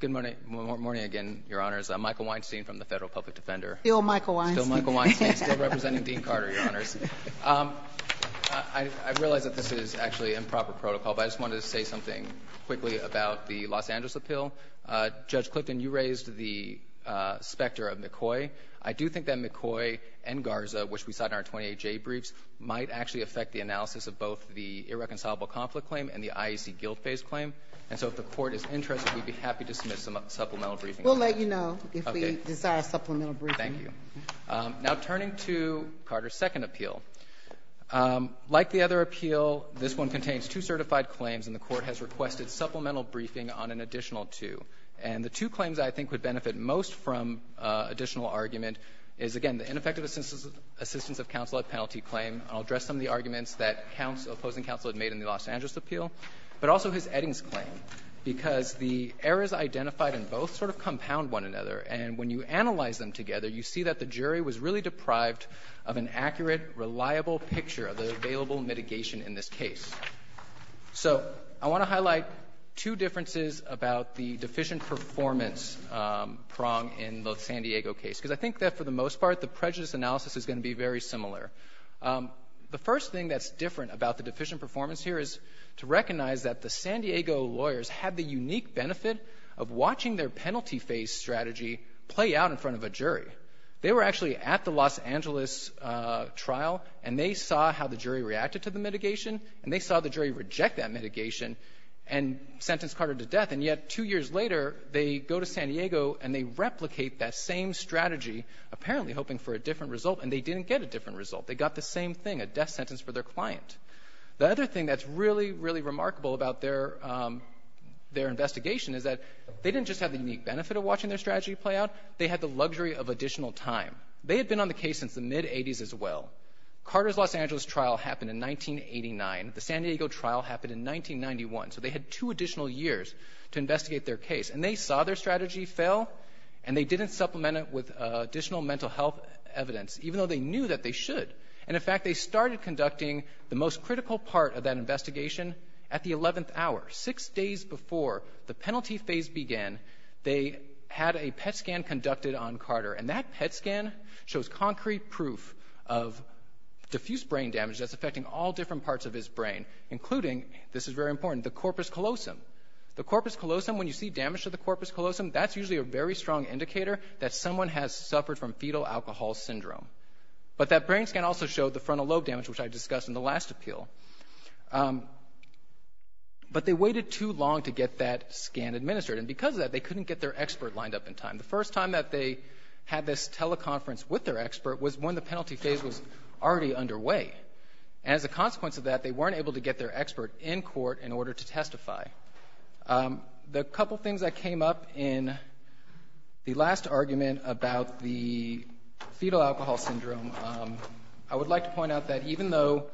Good morning again, Your Honors. I'm Michael Weinstein from the Federal Public Defender. Still Michael Weinstein. Still Michael Weinstein, still representing Dean Carter, Your Honors. I realize that this is actually improper protocol, but I just wanted to say something quickly about the Los Angeles appeal. Judge Clifton, you raised the specter of McCoy. I do think that McCoy and Garza, which we saw in our 28-J briefs, might actually affect the analysis of both the irreconcilable conflict claim and the IEC guilt-based claim. And so if the Court is interested, we'd be happy to submit some supplemental briefings. We'll let you know if we desire supplemental briefings. Thank you. Now, turning to Carter's second appeal, like the other appeal, this one contains two certified claims, and the Court has requested supplemental briefing on an additional two. And the two claims I think would benefit most from additional argument is, again, the ineffective assistance of counsel at penalty claim. I'll address some of the arguments that opposing counsel had made in the Los Angeles appeal, but also his Eddings claim, because the errors identified in both sort of compound one another, and when you analyze them together, you see that the jury was really deprived of an accurate, reliable picture of the available mitigation in this case. So I want to highlight two differences about the deficient performance prong in the San Diego case, because I think that, for the most part, the prejudice analysis is going to be very similar. The first thing that's different about the deficient performance here is to recognize that the San Diego lawyers had the unique benefit of watching their penalty phase strategy play out in front of a jury. They were actually at the Los Angeles trial, and they saw how the jury reacted to the mitigation, and they saw the jury reject that mitigation and sentence Carter to death. And yet two years later, they go to San Diego and they replicate that same strategy, apparently hoping for a different result, and they didn't get a different result. They got the same thing, a death sentence for their client. The other thing that's really, really remarkable about their investigation is that they didn't just have the unique benefit of watching their strategy play out, they had the luxury of additional time. They had been on the case since the mid-'80s as well. Carter's Los Angeles trial happened in 1989. The San Diego trial happened in 1991. So they had two additional years to investigate their case. And they saw their strategy fail, and they didn't supplement it with additional mental health evidence, even though they knew that they should. And, in fact, they started conducting the most critical part of that investigation at the 11th hour, six days before the penalty phase began. They had a PET scan conducted on Carter, and that PET scan shows concrete proof of diffuse brain damage that's affecting all different parts of his brain, including, this is very important, the corpus callosum. The corpus callosum, when you see damage to the corpus callosum, that's usually a very strong indicator that someone has suffered from fetal alcohol syndrome. But that brain scan also showed the frontal lobe damage, which I discussed in the last appeal. But they waited too long to get that scan administered. And because of that, they couldn't get their expert lined up in time. The first time that they had this teleconference with their expert was when the penalty phase was already underway. And as a consequence of that, they weren't able to get their expert in court in order to testify. The couple things that came up in the last argument about the fetal alcohol syndrome, I would like to point out that even though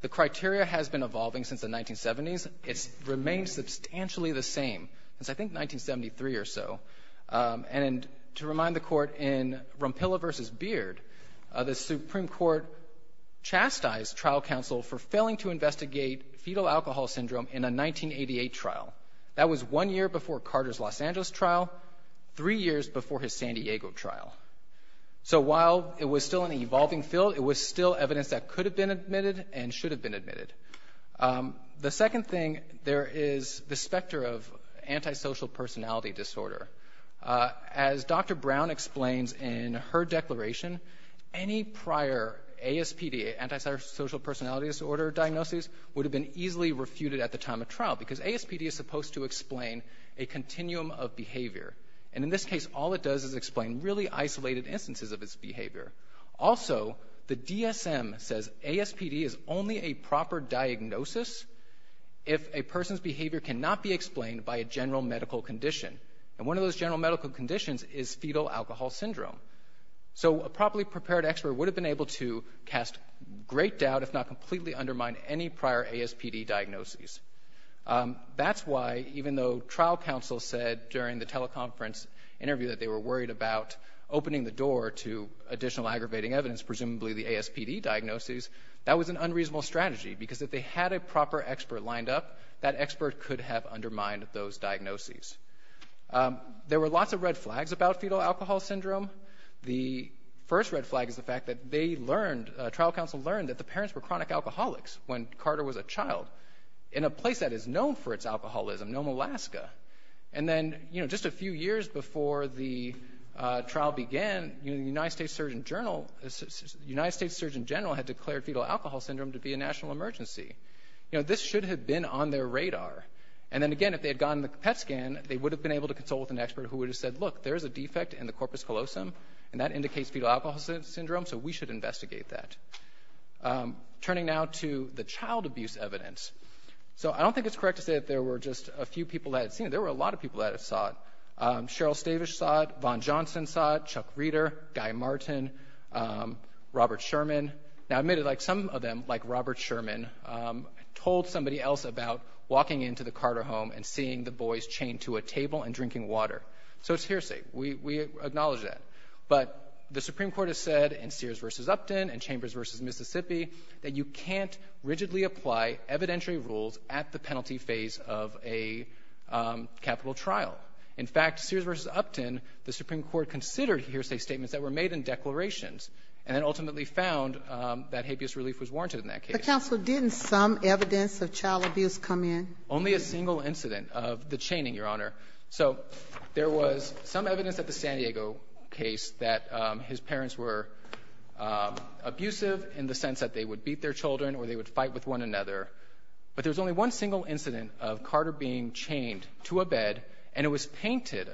the criteria has been evolving since the 1970s, it's remained substantially the same since, I think, 1973 or so. And to remind the Court in Rompilla v. Beard, the Supreme Court chastised trial counsel for failing to investigate fetal alcohol syndrome in a 1988 trial. That was one year before Carter's Los Angeles trial, three years before his San Diego trial. So while it was still an evolving field, it was still evidence that could have been admitted and should have been admitted. The second thing, there is the specter of antisocial personality disorder. As Dr. Brown explains in her declaration, any prior ASPD, antisocial personality disorder, diagnoses would have been easily refuted at the time of trial because ASPD is supposed to explain a continuum of behavior. And in this case, all it does is explain really isolated instances of its behavior. Also, the DSM says ASPD is only a proper diagnosis if a person's behavior cannot be explained by a general medical condition. And one of those general medical conditions is fetal alcohol syndrome. So a properly prepared expert would have been able to cast great doubt, if not completely, undermine any prior ASPD diagnoses. That's why, even though trial counsel said during the teleconference interview that they were worried about opening the door to additional aggravating evidence, presumably the ASPD diagnoses, that was an unreasonable strategy because if they had a proper expert lined up, that expert could have undermined those diagnoses. There were lots of red flags about fetal alcohol syndrome. The first red flag is the fact that they learned, trial counsel learned, that the parents were chronic alcoholics when Carter was a child in a place that is known for its alcoholism, known as Alaska. And then, you know, just a few years before the trial began, you know, the United States Surgeon General had declared fetal alcohol syndrome to be a national emergency. You know, this should have been on their radar. And then, again, if they had gotten the PET scan, they would have been able to consult with an expert who would have said, look, there's a defect in the corpus callosum, and that indicates fetal alcohol syndrome, so we should investigate that. Turning now to the child abuse evidence. So I don't think it's correct to say that there were just a few people that had seen it. There were a lot of people that had saw it. Cheryl Stavish saw it. Von Johnson saw it. Chuck Reeder. Guy Martin. Robert Sherman. Now, I admit it, like some of them, like Robert Sherman, told somebody else about walking into the Carter home and seeing the boys chained to a table and drinking water. So it's hearsay. We acknowledge that. But the Supreme Court has said in Sears v. Upton and Chambers v. Mississippi that you can't rigidly apply evidentiary rules at the penalty phase of a capital trial. In fact, Sears v. Upton, the Supreme Court considered hearsay statements that were made in declarations and then ultimately found that habeas relief was warranted in that case. But, counsel, didn't some evidence of child abuse come in? Only a single incident of the chaining, Your Honor. So there was some evidence at the San Diego case that his parents were abusive in the sense that they would beat their children or they would fight with one another. But there's only one single incident of Carter being chained to a bed, and it was painted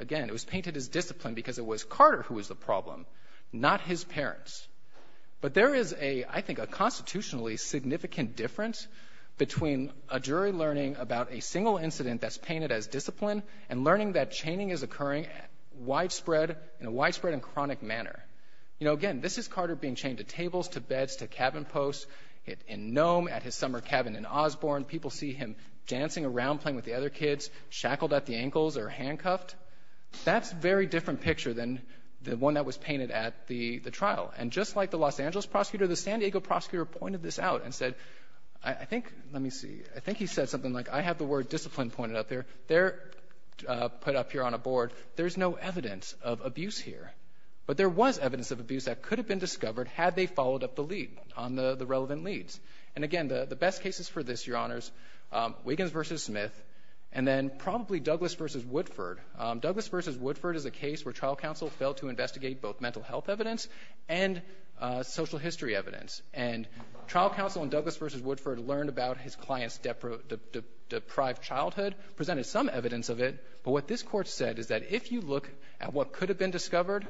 as discipline because it was Carter who was the problem, not his parents. But there is a, I think, a constitutionally significant difference between a jury learning about a single incident that's painted as discipline and learning that chaining is occurring widespread, in a widespread and chronic manner. You know, again, this is Carter being chained to tables, to beds, to cabin posts, in Nome, at his summer cabin in Osborne. People see him dancing around, playing with the other kids, shackled at the ankles or handcuffed. That's a very different picture than the one that was painted at the trial. And just like the Los Angeles prosecutor, the San Diego prosecutor pointed this out and said, I think, let me see, I think he said something like, I have the word discipline pointed out there. They're put up here on a board. There's no evidence of abuse here. But there was evidence of abuse that could have been discovered had they followed up the lead on the relevant leads. And, again, the best cases for this, Your Honors, Wiggins v. Smith, and then probably Douglas v. Woodford. Douglas v. Woodford is a case where trial counsel failed to investigate both mental health evidence and social history evidence. And trial counsel in Douglas v. Woodford learned about his client's deprived childhood, presented some evidence of it. But what this Court said is that if you look at what could have been discovered,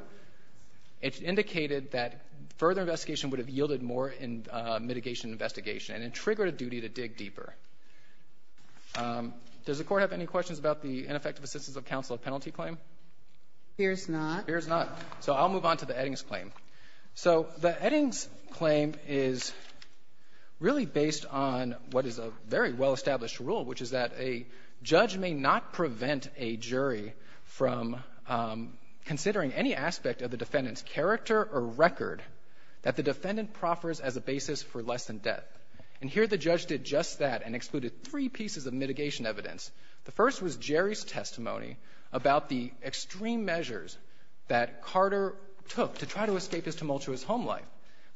it indicated that further investigation would have yielded more in mitigation investigation and triggered a duty to dig deeper. Does the Court have any questions about the ineffective assistance of counsel penalty claim? Here's not. Here's not. So I'll move on to the Eddings claim. So the Eddings claim is really based on what is a very well-established rule, which is that a judge may not prevent a jury from considering any aspect of the defendant's character or record that the defendant proffers as a basis for less than death. And here the judge did just that and excluded three pieces of mitigation evidence. The first was Jerry's testimony about the extreme measures that Carter took to try to escape his tumultuous home life.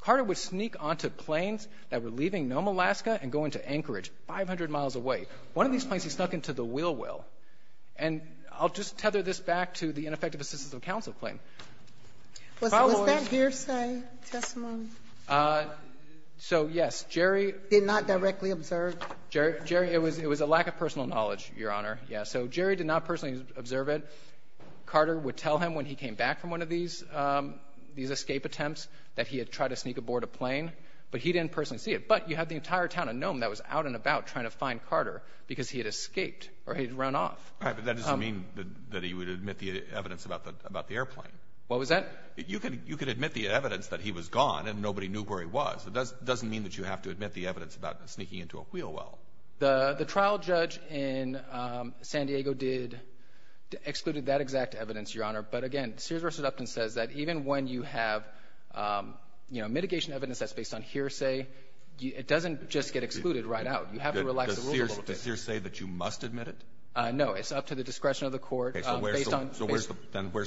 Carter would sneak onto planes that were leaving Nome, Alaska, and go into Anchorage, 500 miles away. One of these planes, he snuck into the Will-Will. And I'll just tether this back to the ineffective assistance of counsel claim. Followed by Jerry's testimony. Did not directly observe. Jerry, it was a lack of personal knowledge, Your Honor. Yes. So Jerry did not personally observe it. Carter would tell him when he came back from one of these escape attempts that he had tried to sneak aboard a plane, but he didn't personally see it. But you had the entire town of Nome that was out and about trying to find Carter because he had escaped or he had run off. All right. But that doesn't mean that he would admit the evidence about the airplane. What was that? You can admit the evidence that he was gone and nobody knew where he was. It doesn't mean that you have to admit the evidence about sneaking into a Will-Will. The trial judge in San Diego excluded that exact evidence, Your Honor. But, again, Sears v. Upton says that even when you have mitigation evidence that's based on hearsay, it doesn't just get excluded right out. You have to relax the rules a little bit. Does Sears say that you must admit it? No. It's up to the discretion of the court. So where's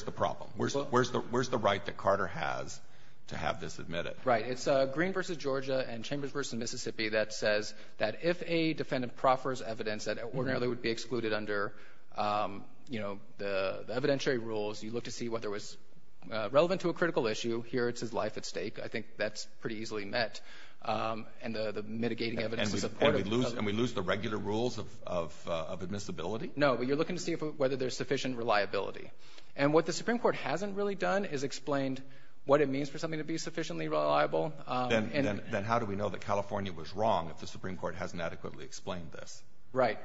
the problem? Where's the right that Carter has to have this admitted? Right. It's Green v. Georgia and Chambers v. Mississippi that says that if a defendant proffers evidence that ordinarily would be excluded under the evidentiary rules, you look to see whether it was relevant to a critical issue. Here it's his life at stake. I think that's pretty easily met and the mitigating evidence is supportive. And we lose the regular rules of admissibility? No, but you're looking to see whether there's sufficient reliability. And what the Supreme Court hasn't really done is explained what it means for something to be sufficiently reliable. Then how do we know that California was wrong if the Supreme Court hasn't adequately explained this? Right.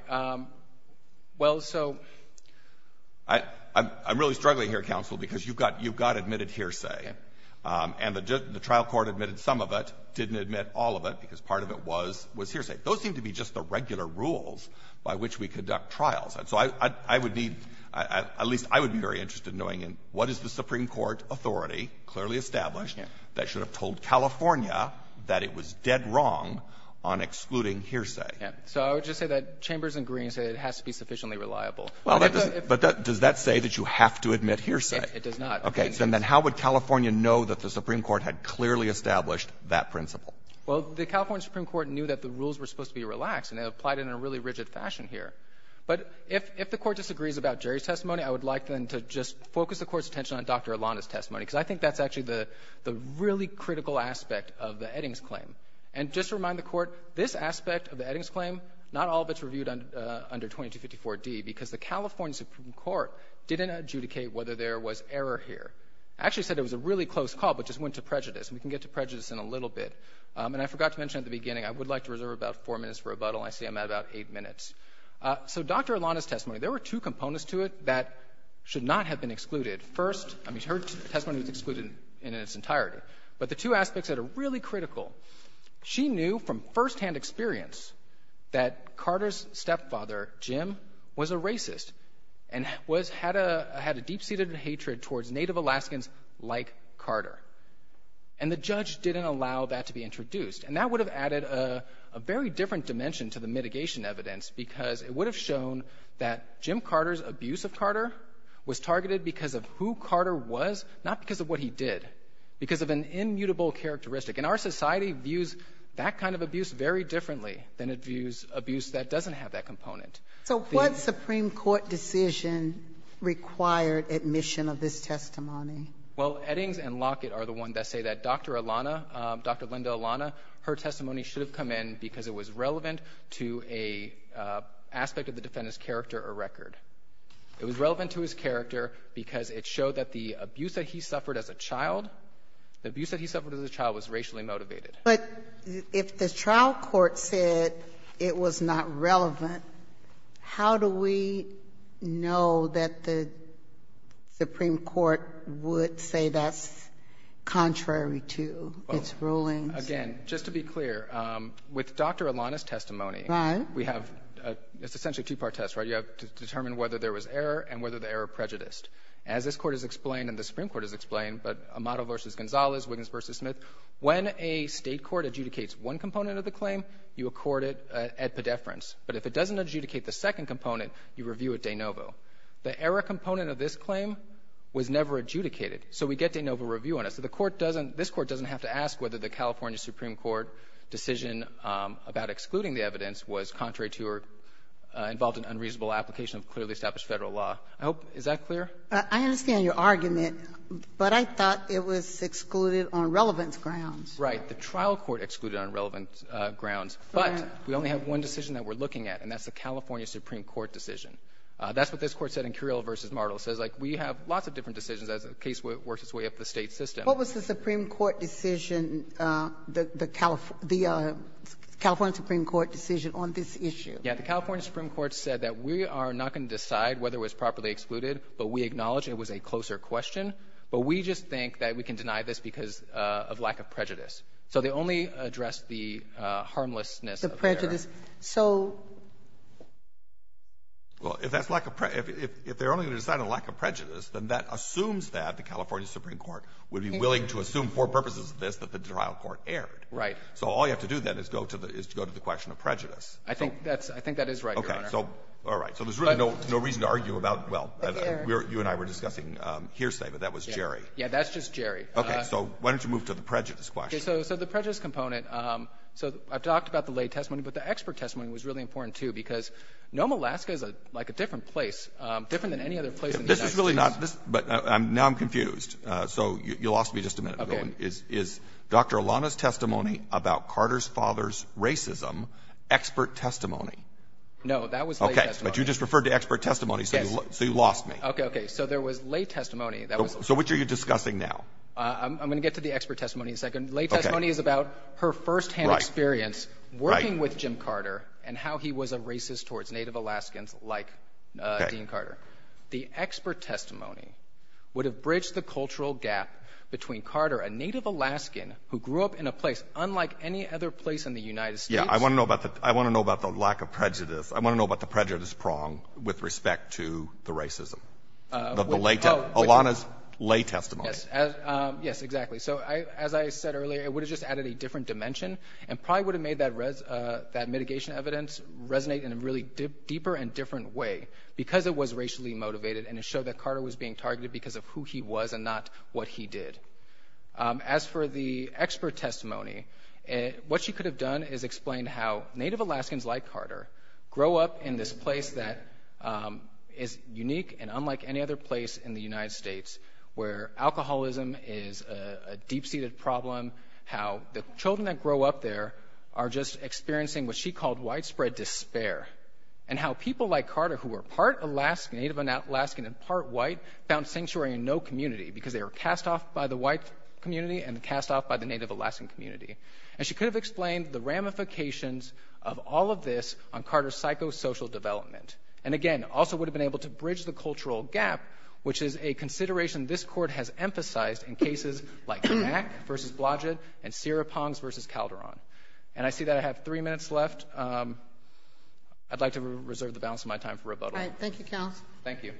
Well, so — I'm really struggling here, counsel, because you've got admitted hearsay. Okay. And the trial court admitted some of it, didn't admit all of it because part of it was hearsay. Those seem to be just the regular rules by which we conduct trials. And so I would need at least I would be very interested in knowing what is the Supreme Court authority clearly established that should have told California that it was dead wrong on excluding hearsay. Yeah. So I would just say that Chambers and Green say it has to be sufficiently reliable. Well, does that say that you have to admit hearsay? It does not. Okay. So then how would California know that the Supreme Court had clearly established that principle? Well, the California Supreme Court knew that the rules were supposed to be relaxed and it applied it in a really rigid fashion here. But if the Court disagrees about Jerry's testimony, I would like then to just focus the Court's attention on Dr. Ilana's testimony, because I think that's actually the really critical aspect of the Eddings claim. And just to remind the Court, this aspect of the Eddings claim, not all of it's reviewed under 2254d, because the California Supreme Court didn't adjudicate whether there was error here. It actually said it was a really close call, but just went to prejudice. And we can get to prejudice in a little bit. And I forgot to mention at the beginning, I would like to reserve about four minutes for rebuttal, and I see I'm at about eight minutes. So Dr. Ilana's testimony, there were two components to it that should not have been excluded. First, I mean, her testimony was excluded in its entirety. But the two aspects that are really critical, she knew from firsthand experience that Carter's stepfather, Jim, was a racist and was had a deep-seated hatred towards Native Alaskans like Carter. And the judge didn't allow that to be introduced. And that would have added a very different dimension to the mitigation evidence, because it would have shown that Jim Carter's abuse of Carter was targeted because of who Carter was, not because of what he did, because of an immutable characteristic. And our society views that kind of abuse very differently than it views abuse that doesn't have that component. So what supreme court decision required admission of this testimony? Well, Eddings and Lockett are the ones that say that Dr. Ilana, Dr. Linda Ilana, her testimony should have come in because it was relevant to an aspect of the defendant's character or record. It was relevant to his character because it showed that the abuse that he suffered as a child, the abuse that he suffered as a child was racially motivated. But if the trial court said it was not relevant, how do we know that the supreme court would say that's contrary to its rulings? Again, just to be clear, with Dr. Ilana's testimony, we have a — it's essentially a two-part test, right? You have to determine whether there was error and whether the error prejudiced. As this Court has explained and the supreme court has explained, but Amado v. Gonzalez, Wiggins v. Smith, when a State court adjudicates one component of the claim, you accord it at pedeference. But if it doesn't adjudicate the second component, you review it de novo. The error component of this claim was never adjudicated. So we get de novo review on it. So the Court doesn't — this Court doesn't have to ask whether the California supreme court decision about excluding the evidence was contrary to or involved in unreasonable application of clearly established Federal law. I hope — is that clear? I understand your argument, but I thought it was excluded on relevance grounds. Right. The trial court excluded on relevance grounds. But we only have one decision that we're looking at, and that's the California supreme court decision. That's what this Court said in Curiel v. Martel. It says, like, we have lots of different decisions. That's a case where it works its way up the State system. What was the supreme court decision, the California supreme court decision on this issue? Yeah. The California supreme court said that we are not going to decide whether it was properly excluded, but we acknowledge it was a closer question. But we just think that we can deny this because of lack of prejudice. So they only addressed the harmlessness of the error. Well, if that's lack of prejudice, if they're only going to decide on lack of prejudice, then that assumes that the California supreme court would be willing to assume for purposes of this that the trial court erred. Right. So all you have to do, then, is go to the question of prejudice. I think that's — I think that is right, Your Honor. Okay. So, all right. So there's really no reason to argue about — well, you and I were discussing hearsay, but that was Jerry. Yeah. That's just Jerry. Okay. So why don't you move to the prejudice question? So the prejudice component, so I've talked about the lay testimony before. But the expert testimony was really important, too, because Nome, Alaska is like a different place, different than any other place in the United States. This is really not — but now I'm confused. So you lost me just a minute ago. Okay. Is Dr. Alana's testimony about Carter's father's racism expert testimony? No. That was lay testimony. Okay. But you just referred to expert testimony. Yes. So you lost me. Okay. Okay. So there was lay testimony. So which are you discussing now? I'm going to get to the expert testimony in a second. Okay. The expert testimony is about her firsthand experience working with Jim Carter and how he was a racist towards Native Alaskans like Dean Carter. Okay. The expert testimony would have bridged the cultural gap between Carter, a Native Alaskan who grew up in a place unlike any other place in the United States. Yeah. I want to know about the lack of prejudice. I want to know about the prejudice prong with respect to the racism of the lay testimony — Alana's lay testimony. Yes. Yes, exactly. So as I said earlier, it would have just added a different dimension and probably would have made that mitigation evidence resonate in a really deeper and different way because it was racially motivated and it showed that Carter was being targeted because of who he was and not what he did. As for the expert testimony, what she could have done is explained how Native Alaskans like Carter grow up in this place that is unique and unlike any other place in the United States. She could have explained the deep-seated problem, how the children that grow up there are just experiencing what she called widespread despair, and how people like Carter who were part Alaskan, Native Alaskan, and part white found sanctuary in no community because they were cast off by the white community and cast off by the Native Alaskan community. And she could have explained the ramifications of all of this on Carter's psychosocial development and, again, also would have been able to bridge the cultural gap, which is a consideration this Court has emphasized in cases like Mack v. Blodgett and Sierra Ponds v. Calderon. And I see that I have three minutes left. I'd like to reserve the balance of my time for rebuttal. All right. Thank you, counsel. Thank you.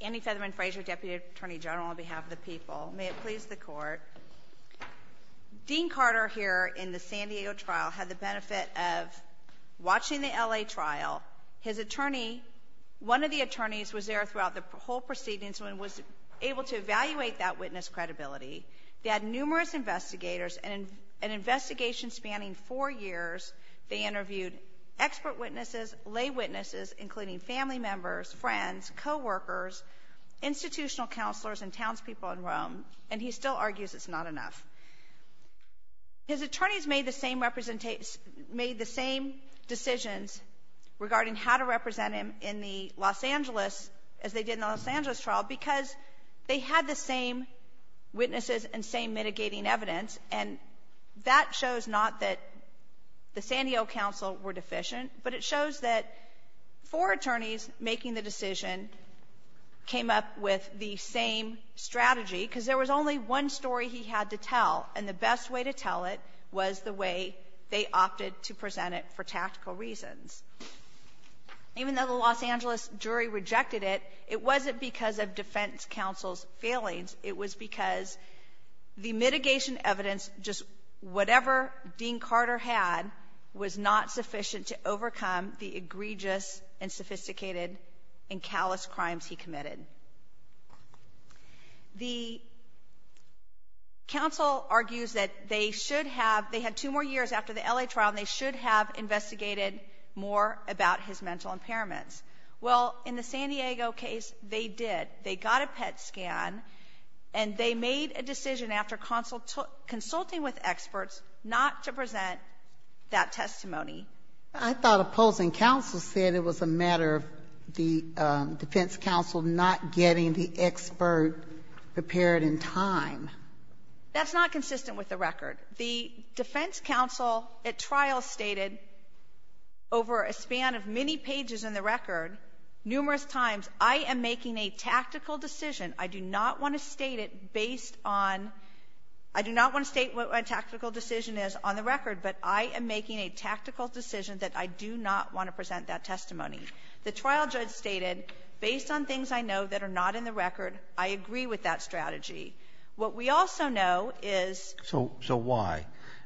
Andy Featherman Frazier, Deputy Attorney General, on behalf of the people. May it please the Court. Dean Carter here in the San Diego trial had the benefit of watching the L.A. trial. His attorney, one of the attorneys, was there throughout the whole proceedings and was able to evaluate that witness credibility. They had numerous investigators. In an investigation spanning four years, they interviewed expert witnesses, lay witnesses, including family members, friends, coworkers, institutional counselors, and townspeople in Rome. And he still argues it's not enough. His attorneys made the same decisions regarding how to represent him in the Los Angeles, as they had the same witnesses and same mitigating evidence. And that shows not that the San Diego counsel were deficient, but it shows that four attorneys making the decision came up with the same strategy, because there was only one story he had to tell, and the best way to tell it was the way they opted to present it for tactical reasons. Even though the Los Angeles jury rejected it, it wasn't because of defense counsel's failings. It was because the mitigation evidence, just whatever Dean Carter had, was not sufficient to overcome the egregious and sophisticated and callous crimes he committed. The counsel argues that they should have — they had two more years after the L.A. trial, and they should have investigated more about his mental impairments. Well, in the San Diego case, they did. They got a PET scan, and they made a decision after consulting with experts not to present that testimony. I thought opposing counsel said it was a matter of the defense counsel not getting the expert prepared in time. That's not consistent with the record. The defense counsel at trial stated, over a span of many pages in the record, numerous times, I am making a tactical decision. I do not want to state it based on — I do not want to state what my tactical decision is on the record, but I am making a tactical decision that I do not want to present that testimony. The trial judge stated, based on things I know that are not in the record, I agree with that strategy. What we also know is — So why?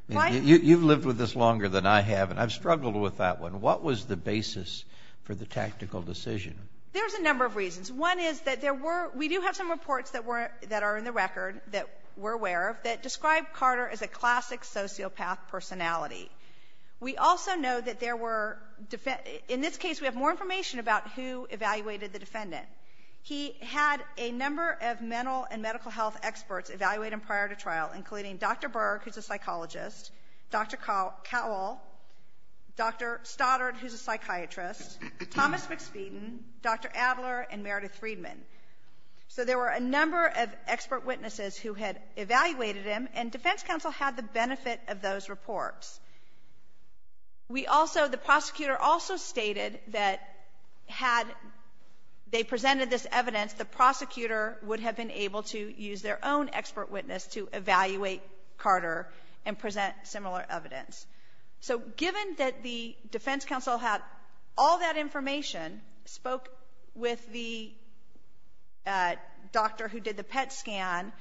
You've lived with this longer than I have, and I've struggled with that one. What was the basis for the tactical decision? There's a number of reasons. One is that there were — we do have some reports that were — that are in the record, that we're aware of, that describe Carter as a classic sociopath personality. We also know that there were — in this case, we have more information about who evaluated the defendant. He had a number of mental and medical health experts evaluate him prior to trial, including Dr. Berg, who's a psychologist, Dr. Cowell, Dr. Stoddard, who's a psychiatrist, Thomas McSpeeden, Dr. Adler, and Meredith Friedman. So there were a number of expert witnesses who had evaluated him, and defense counsel had the benefit of those reports. We also — the prosecutor also stated that had they presented this evidence, the prosecutor would have been able to use their own expert witness to evaluate Carter and present similar evidence. So given that the defense counsel had all that information, spoke with the doctor who did the PET scan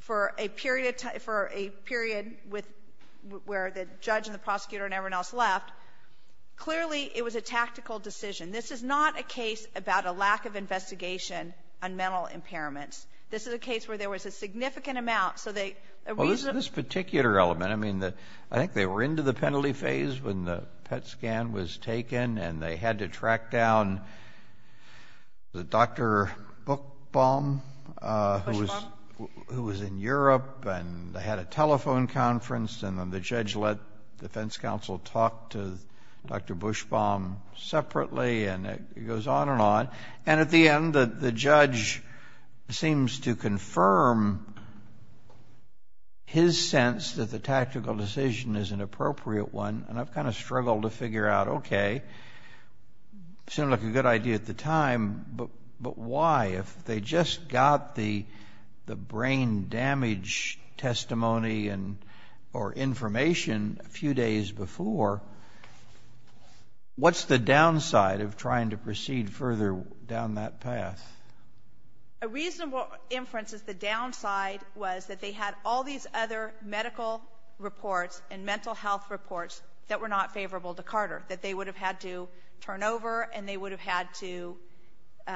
for a period of time — for a period with — where the judge and the prosecutor and everyone else left, clearly it was a tactical decision. This is not a case about a lack of investigation on mental impairments. This is a case where there was a significant amount, so they — Well, this particular element, I mean, I think they were into the penalty phase when the PET scan was taken, and they had to track down the Dr. Buchbaum, who was in Europe, and they had a telephone conference, and then the judge let defense counsel talk to Dr. Buchbaum separately, and it goes on and on. And at the end, the judge seems to confirm his sense that the tactical decision is an appropriate one, and I've kind of struggled to figure out, okay, seemed like a good idea at the time, but why? If they just got the brain damage testimony or information a few days before, what's the downside of trying to proceed further down that path? A reasonable inference is the downside was that they had all these other medical reports and mental health reports that were not favorable to Carter, that they would have had to turn over and they would have had to —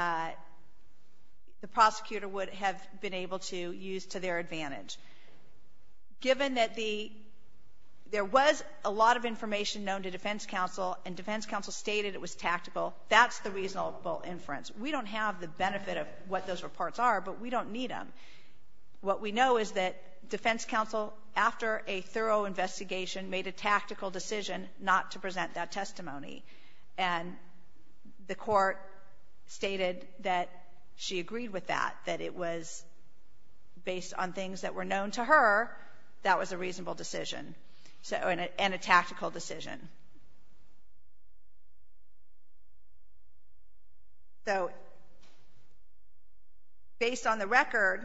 the prosecutor would have been able to use to their advantage. Given that the — there was a lot of information known to defense counsel, and defense counsel stated it was tactical, that's the reasonable inference. We don't have the benefit of what those reports are, but we don't need them. What we know is that defense counsel, after a thorough investigation, made a tactical decision not to present that testimony, and the court stated that she agreed with that, that it was, based on things that were known to her, that was a reasonable decision, and a tactical decision. So, based on the record,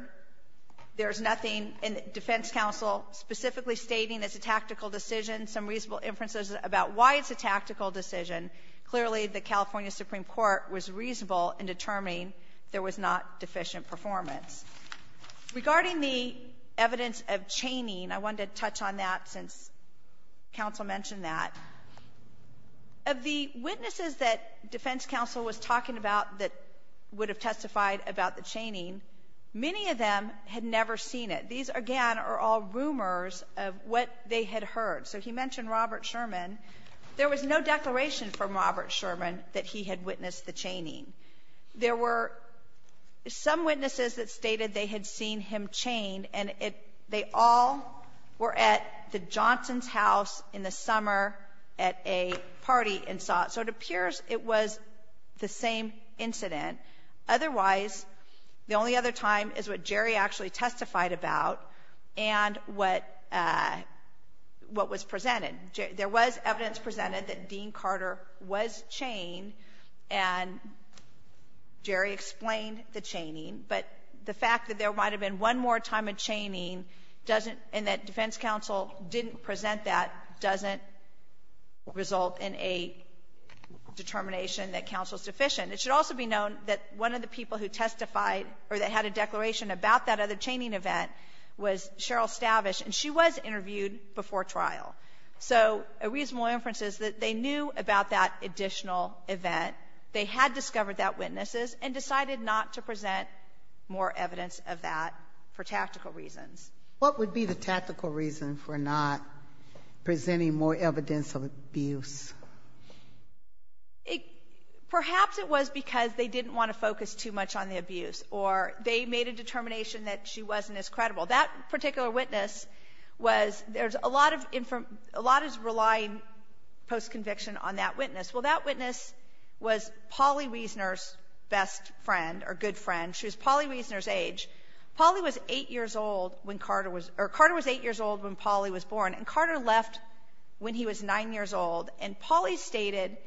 there's nothing in defense counsel specifically stating it's a tactical decision, some reasonable inferences about why it's a tactical decision. Clearly, the California Supreme Court was reasonable in determining there was not deficient performance. Regarding the evidence of chaining, I wanted to touch on that since counsel mentioned that. Of the witnesses that defense counsel was talking about that would have testified about the chaining, many of them had never seen it. These, again, are all rumors of what they had heard. So he mentioned Robert Sherman. There was no declaration from Robert Sherman that he had witnessed the chaining. There were some witnesses that stated they had seen him chained, and they all were at the Johnsons' house in the summer at a party and saw it. So it appears it was the same incident. Otherwise, the only other time is what Jerry actually testified about and what was presented. There was evidence presented that Dean Carter was chained, and Jerry explained the chaining. But the fact that there might have been one more time of chaining doesn't – and that defense counsel didn't present that doesn't result in a determination that counsel is deficient. It should also be known that one of the people who testified or that had a declaration about that other chaining event was Cheryl Stavish, and she was interviewed before trial. So a reasonable inference is that they knew about that additional event, they had discovered that witnesses, and decided not to present more evidence of that for tactical reasons. What would be the tactical reason for not presenting more evidence of abuse? Perhaps it was because they didn't want to focus too much on the abuse, or they made a determination that she wasn't as credible. That particular witness was – there's a lot of – a lot is relying post-conviction on that witness. Well, that witness was Polly Wiesner's best friend or good friend. She was Polly Wiesner's age. Polly was 8 years old when Carter was – or Carter was 8 years old when Polly was born, and Carter left when he was 9 years old. And Polly stated –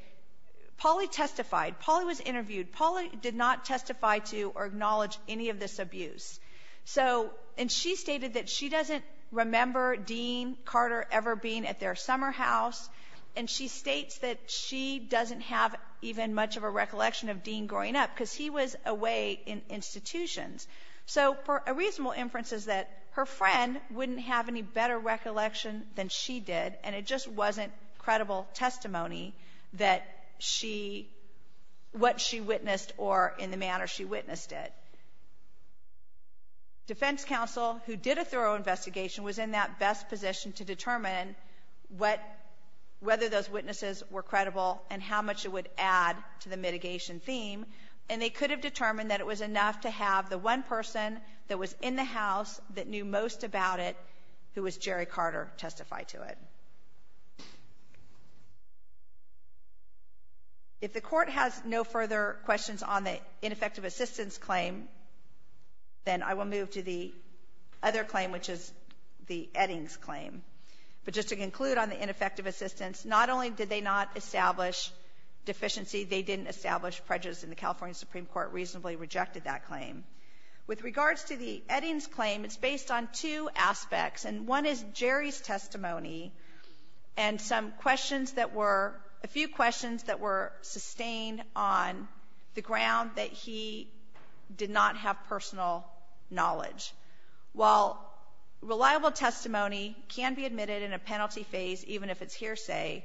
Polly testified. Polly was interviewed. Polly did not testify to or acknowledge any of this abuse. So – and she stated that she doesn't remember Dean Carter ever being at their summer house, and she states that she doesn't have even much of a recollection of Dean growing up, because he was away in institutions. So a reasonable inference is that her friend wouldn't have any better recollection than she did, and it just wasn't credible testimony that she – what she witnessed or in the manner she witnessed it. Defense counsel who did a thorough investigation was in that best position to determine what – whether those witnesses were credible and how much it would add to the mitigation theme, and they could have determined that it was enough to have the one person that was in the house that knew most about it, who was Jerry Carter, testify to it. If the Court has no further questions on the ineffective assistance claim, then I will move to the other claim, which is the Eddings claim. But just to conclude on the ineffective assistance, not only did they not establish deficiency, they didn't establish prejudice, and the California Supreme Court reasonably rejected that claim. With regards to the Eddings claim, it's based on two aspects, and one is Jerry's testimony and some questions that were – a few questions that were sustained on the ground that he did not have personal knowledge. While reliable testimony can be admitted in a penalty phase, even if it's hearsay,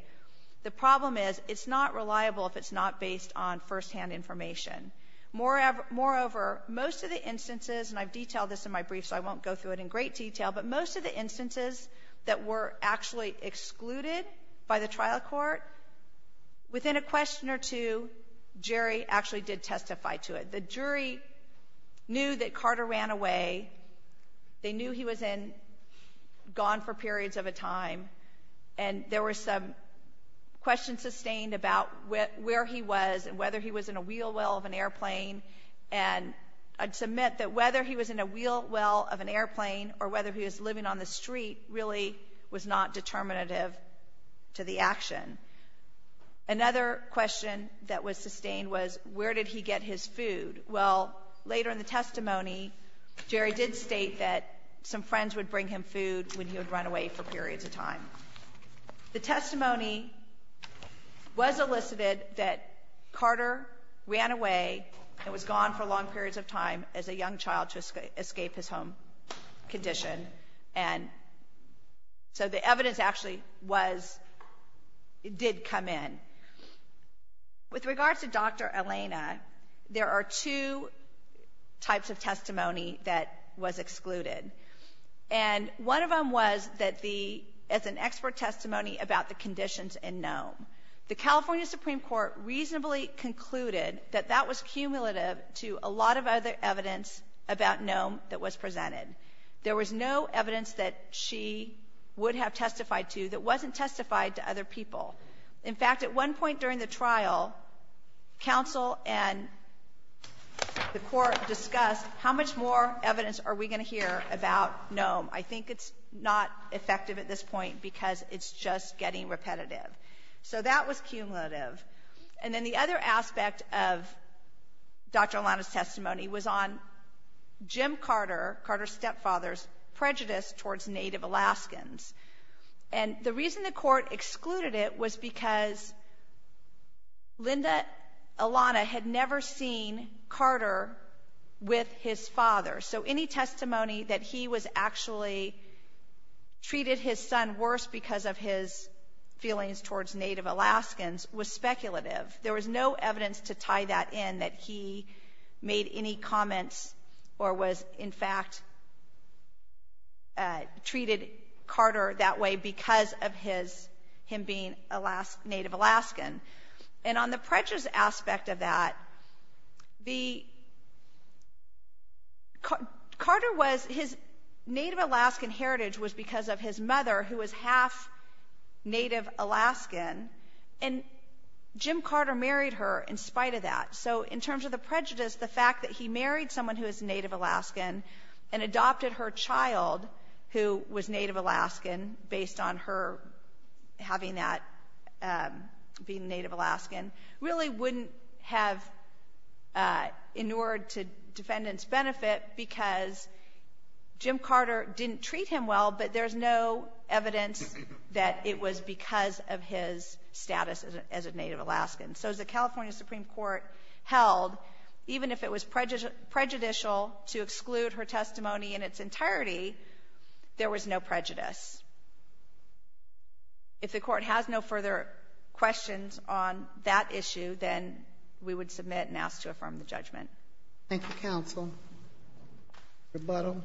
the problem is it's not reliable if it's not based on firsthand information. Moreover, most of the instances – and I've detailed this in my brief, so I won't go through it in great detail – but most of the instances that were actually excluded by the trial court, within a question or two, Jerry actually did testify to it. The jury knew that Carter ran away. They knew he was in – gone for periods of a time. And there were some questions sustained about where he was and whether he was in a wheel well of an airplane. And I'd submit that whether he was in a wheel well of an airplane or whether he was living on the street really was not determinative to the action. Another question that was sustained was where did he get his food. Well, later in the testimony, Jerry did state that some friends would bring him food when he would run away for periods of time. The testimony was elicited that Carter ran away and was gone for long periods of time as a young child to escape his home condition. And so the evidence actually was – did come in. With regards to Dr. Elena, there are two types of testimony that was excluded. And one of them was that the – as an expert testimony about the conditions in Nome. The California Supreme Court reasonably concluded that that was cumulative to a lot of other evidence about Nome that was presented. There was no evidence that she would have testified to that wasn't testified to other people. In fact, at one point during the trial, counsel and the court discussed how much more evidence are we going to hear about Nome. I think it's not effective at this point because it's just getting repetitive. So that was cumulative. And then the other aspect of Dr. Elena's testimony was on Jim Carter, Carter's stepfather's prejudice towards Native Alaskans. And the reason the court excluded it was because Linda Elena had never seen Carter with his father. So any testimony that he was actually – treated his son worse because of his feelings towards Native Alaskans was speculative. There was no evidence to tie that in, that he made any comments or was, in fact, treated Carter that way because of his – him being Native Alaskan. And on the prejudice aspect of that, the – Carter was – his Native Alaskan heritage was because of his mother, who was half Native Alaskan. And Jim Carter married her in spite of that. So in terms of the prejudice, the fact that he married someone who was Native Alaskan and adopted her child, who was Native Alaskan, based on her having that being Native Alaskan, really wouldn't have inured to defendant's benefit because Jim Carter didn't treat him well, but there's no evidence that it was because of his status as a Native Alaskan. So as the California Supreme Court held, even if it was prejudicial to exclude her testimony in its entirety, there was no prejudice. If the Court has no further questions on that issue, then we would submit and ask to affirm the judgment. Thank you, counsel. Rebuttal.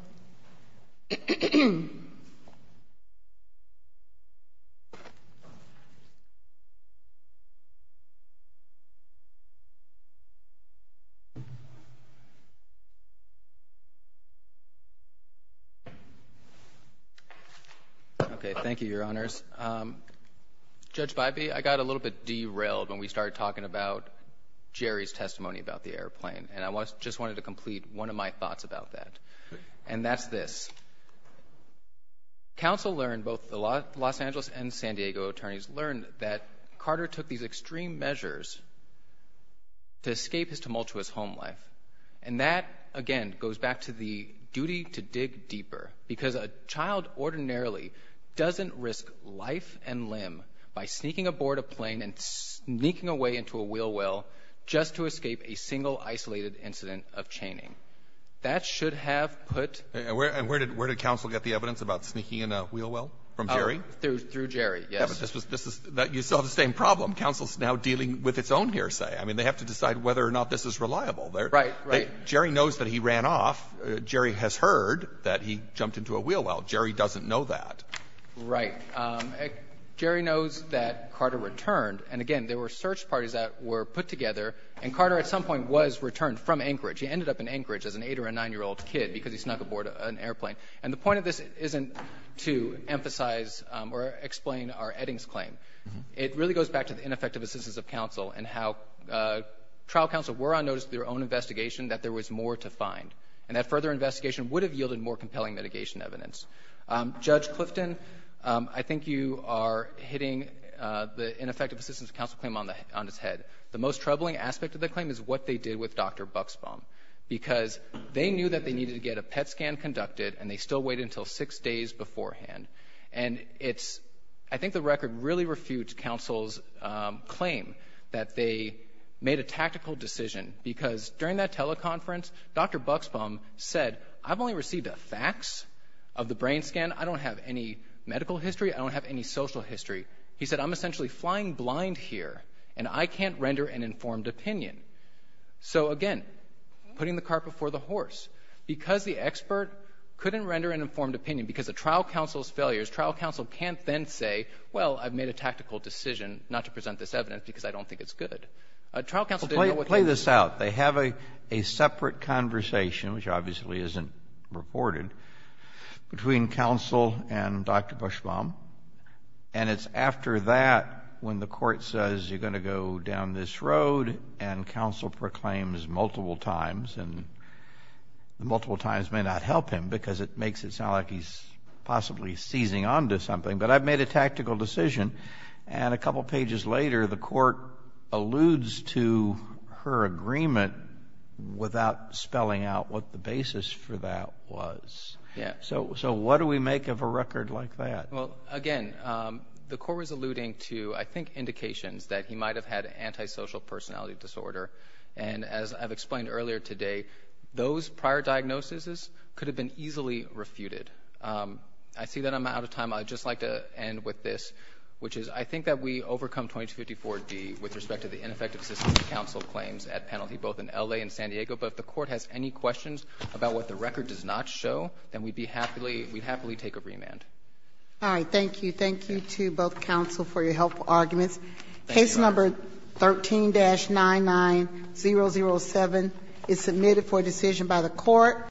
Okay. Thank you, Your Honors. Judge Bybee, I got a little bit derailed when we started talking about Jerry's testimony about the airplane, and I just wanted to complete one of my thoughts about that, and that's this. Counsel learned, both the Los Angeles and San Diego attorneys learned, that Carter took these extreme measures to escape his tumultuous home life. And that, again, goes back to the duty to dig deeper, because a child ordinarily doesn't risk life and limb by sneaking aboard a plane and sneaking away into a wheel well just to escape a single isolated incident of chaining. That should have put — And where did counsel get the evidence about sneaking in a wheel well, from Jerry? Through Jerry, yes. Yeah, but this is — you still have the same problem. Counsel is now dealing with its own hearsay. I mean, they have to decide whether or not this is reliable. Right, right. Jerry knows that he ran off. Jerry has heard that he jumped into a wheel well. Jerry doesn't know that. Right. Jerry knows that Carter returned. And, again, there were search parties that were put together, and Carter at some point was returned from Anchorage. He ended up in Anchorage as an 8- or a 9-year-old kid because he snuck aboard an airplane. And the point of this isn't to emphasize or explain our Eddings claim. It really goes back to the ineffective assistance of counsel and how trial counsel were on notice of their own investigation that there was more to find, and that further investigation would have yielded more compelling mitigation evidence. Judge Clifton, I think you are hitting the ineffective assistance of counsel claim on its head. The most troubling aspect of the claim is what they did with Dr. Buxbaum, because they knew that they needed to get a PET scan conducted, and they still waited until six days beforehand. And it's — I think the record really refutes counsel's claim that they made a tactical decision, because during that teleconference, Dr. Buxbaum said, I've only received a fax of the brain scan. I don't have any medical history. I don't have any social history. He said, I'm essentially flying blind here, and I can't render an informed opinion. So, again, putting the cart before the horse. Because the expert couldn't render an informed opinion, because of trial counsel's failures, trial counsel can't then say, well, I've made a tactical decision not to present this evidence because I don't think it's good. Trial counsel didn't know what to do. Kennedy. Well, play this out. They have a separate conversation, which obviously isn't reported, between counsel and Dr. Buxbaum, and it's after that when the Court says, you're going to go down this road, and counsel proclaims multiple times, and the multiple times may not help him because it makes it sound like he's possibly seizing onto something. But I've made a tactical decision. And a couple pages later, the Court alludes to her agreement without spelling out what the basis for that was. So what do we make of a record like that? Well, again, the Court was alluding to, I think, indications that he might have had antisocial personality disorder. And as I've explained earlier today, those prior diagnoses could have been easily refuted. I see that I'm out of time. I'd just like to end with this, which is I think that we overcome 2254D with respect to the ineffective assistance that counsel claims at penalty, both in L.A. and San Diego. But if the Court has any questions about what the record does not show, then we'd be happily — we'd happily take a remand. All right. Thank you. Thank you to both counsel for your helpful arguments. Thank you. Case number 13-99007 is submitted for decision by the Court.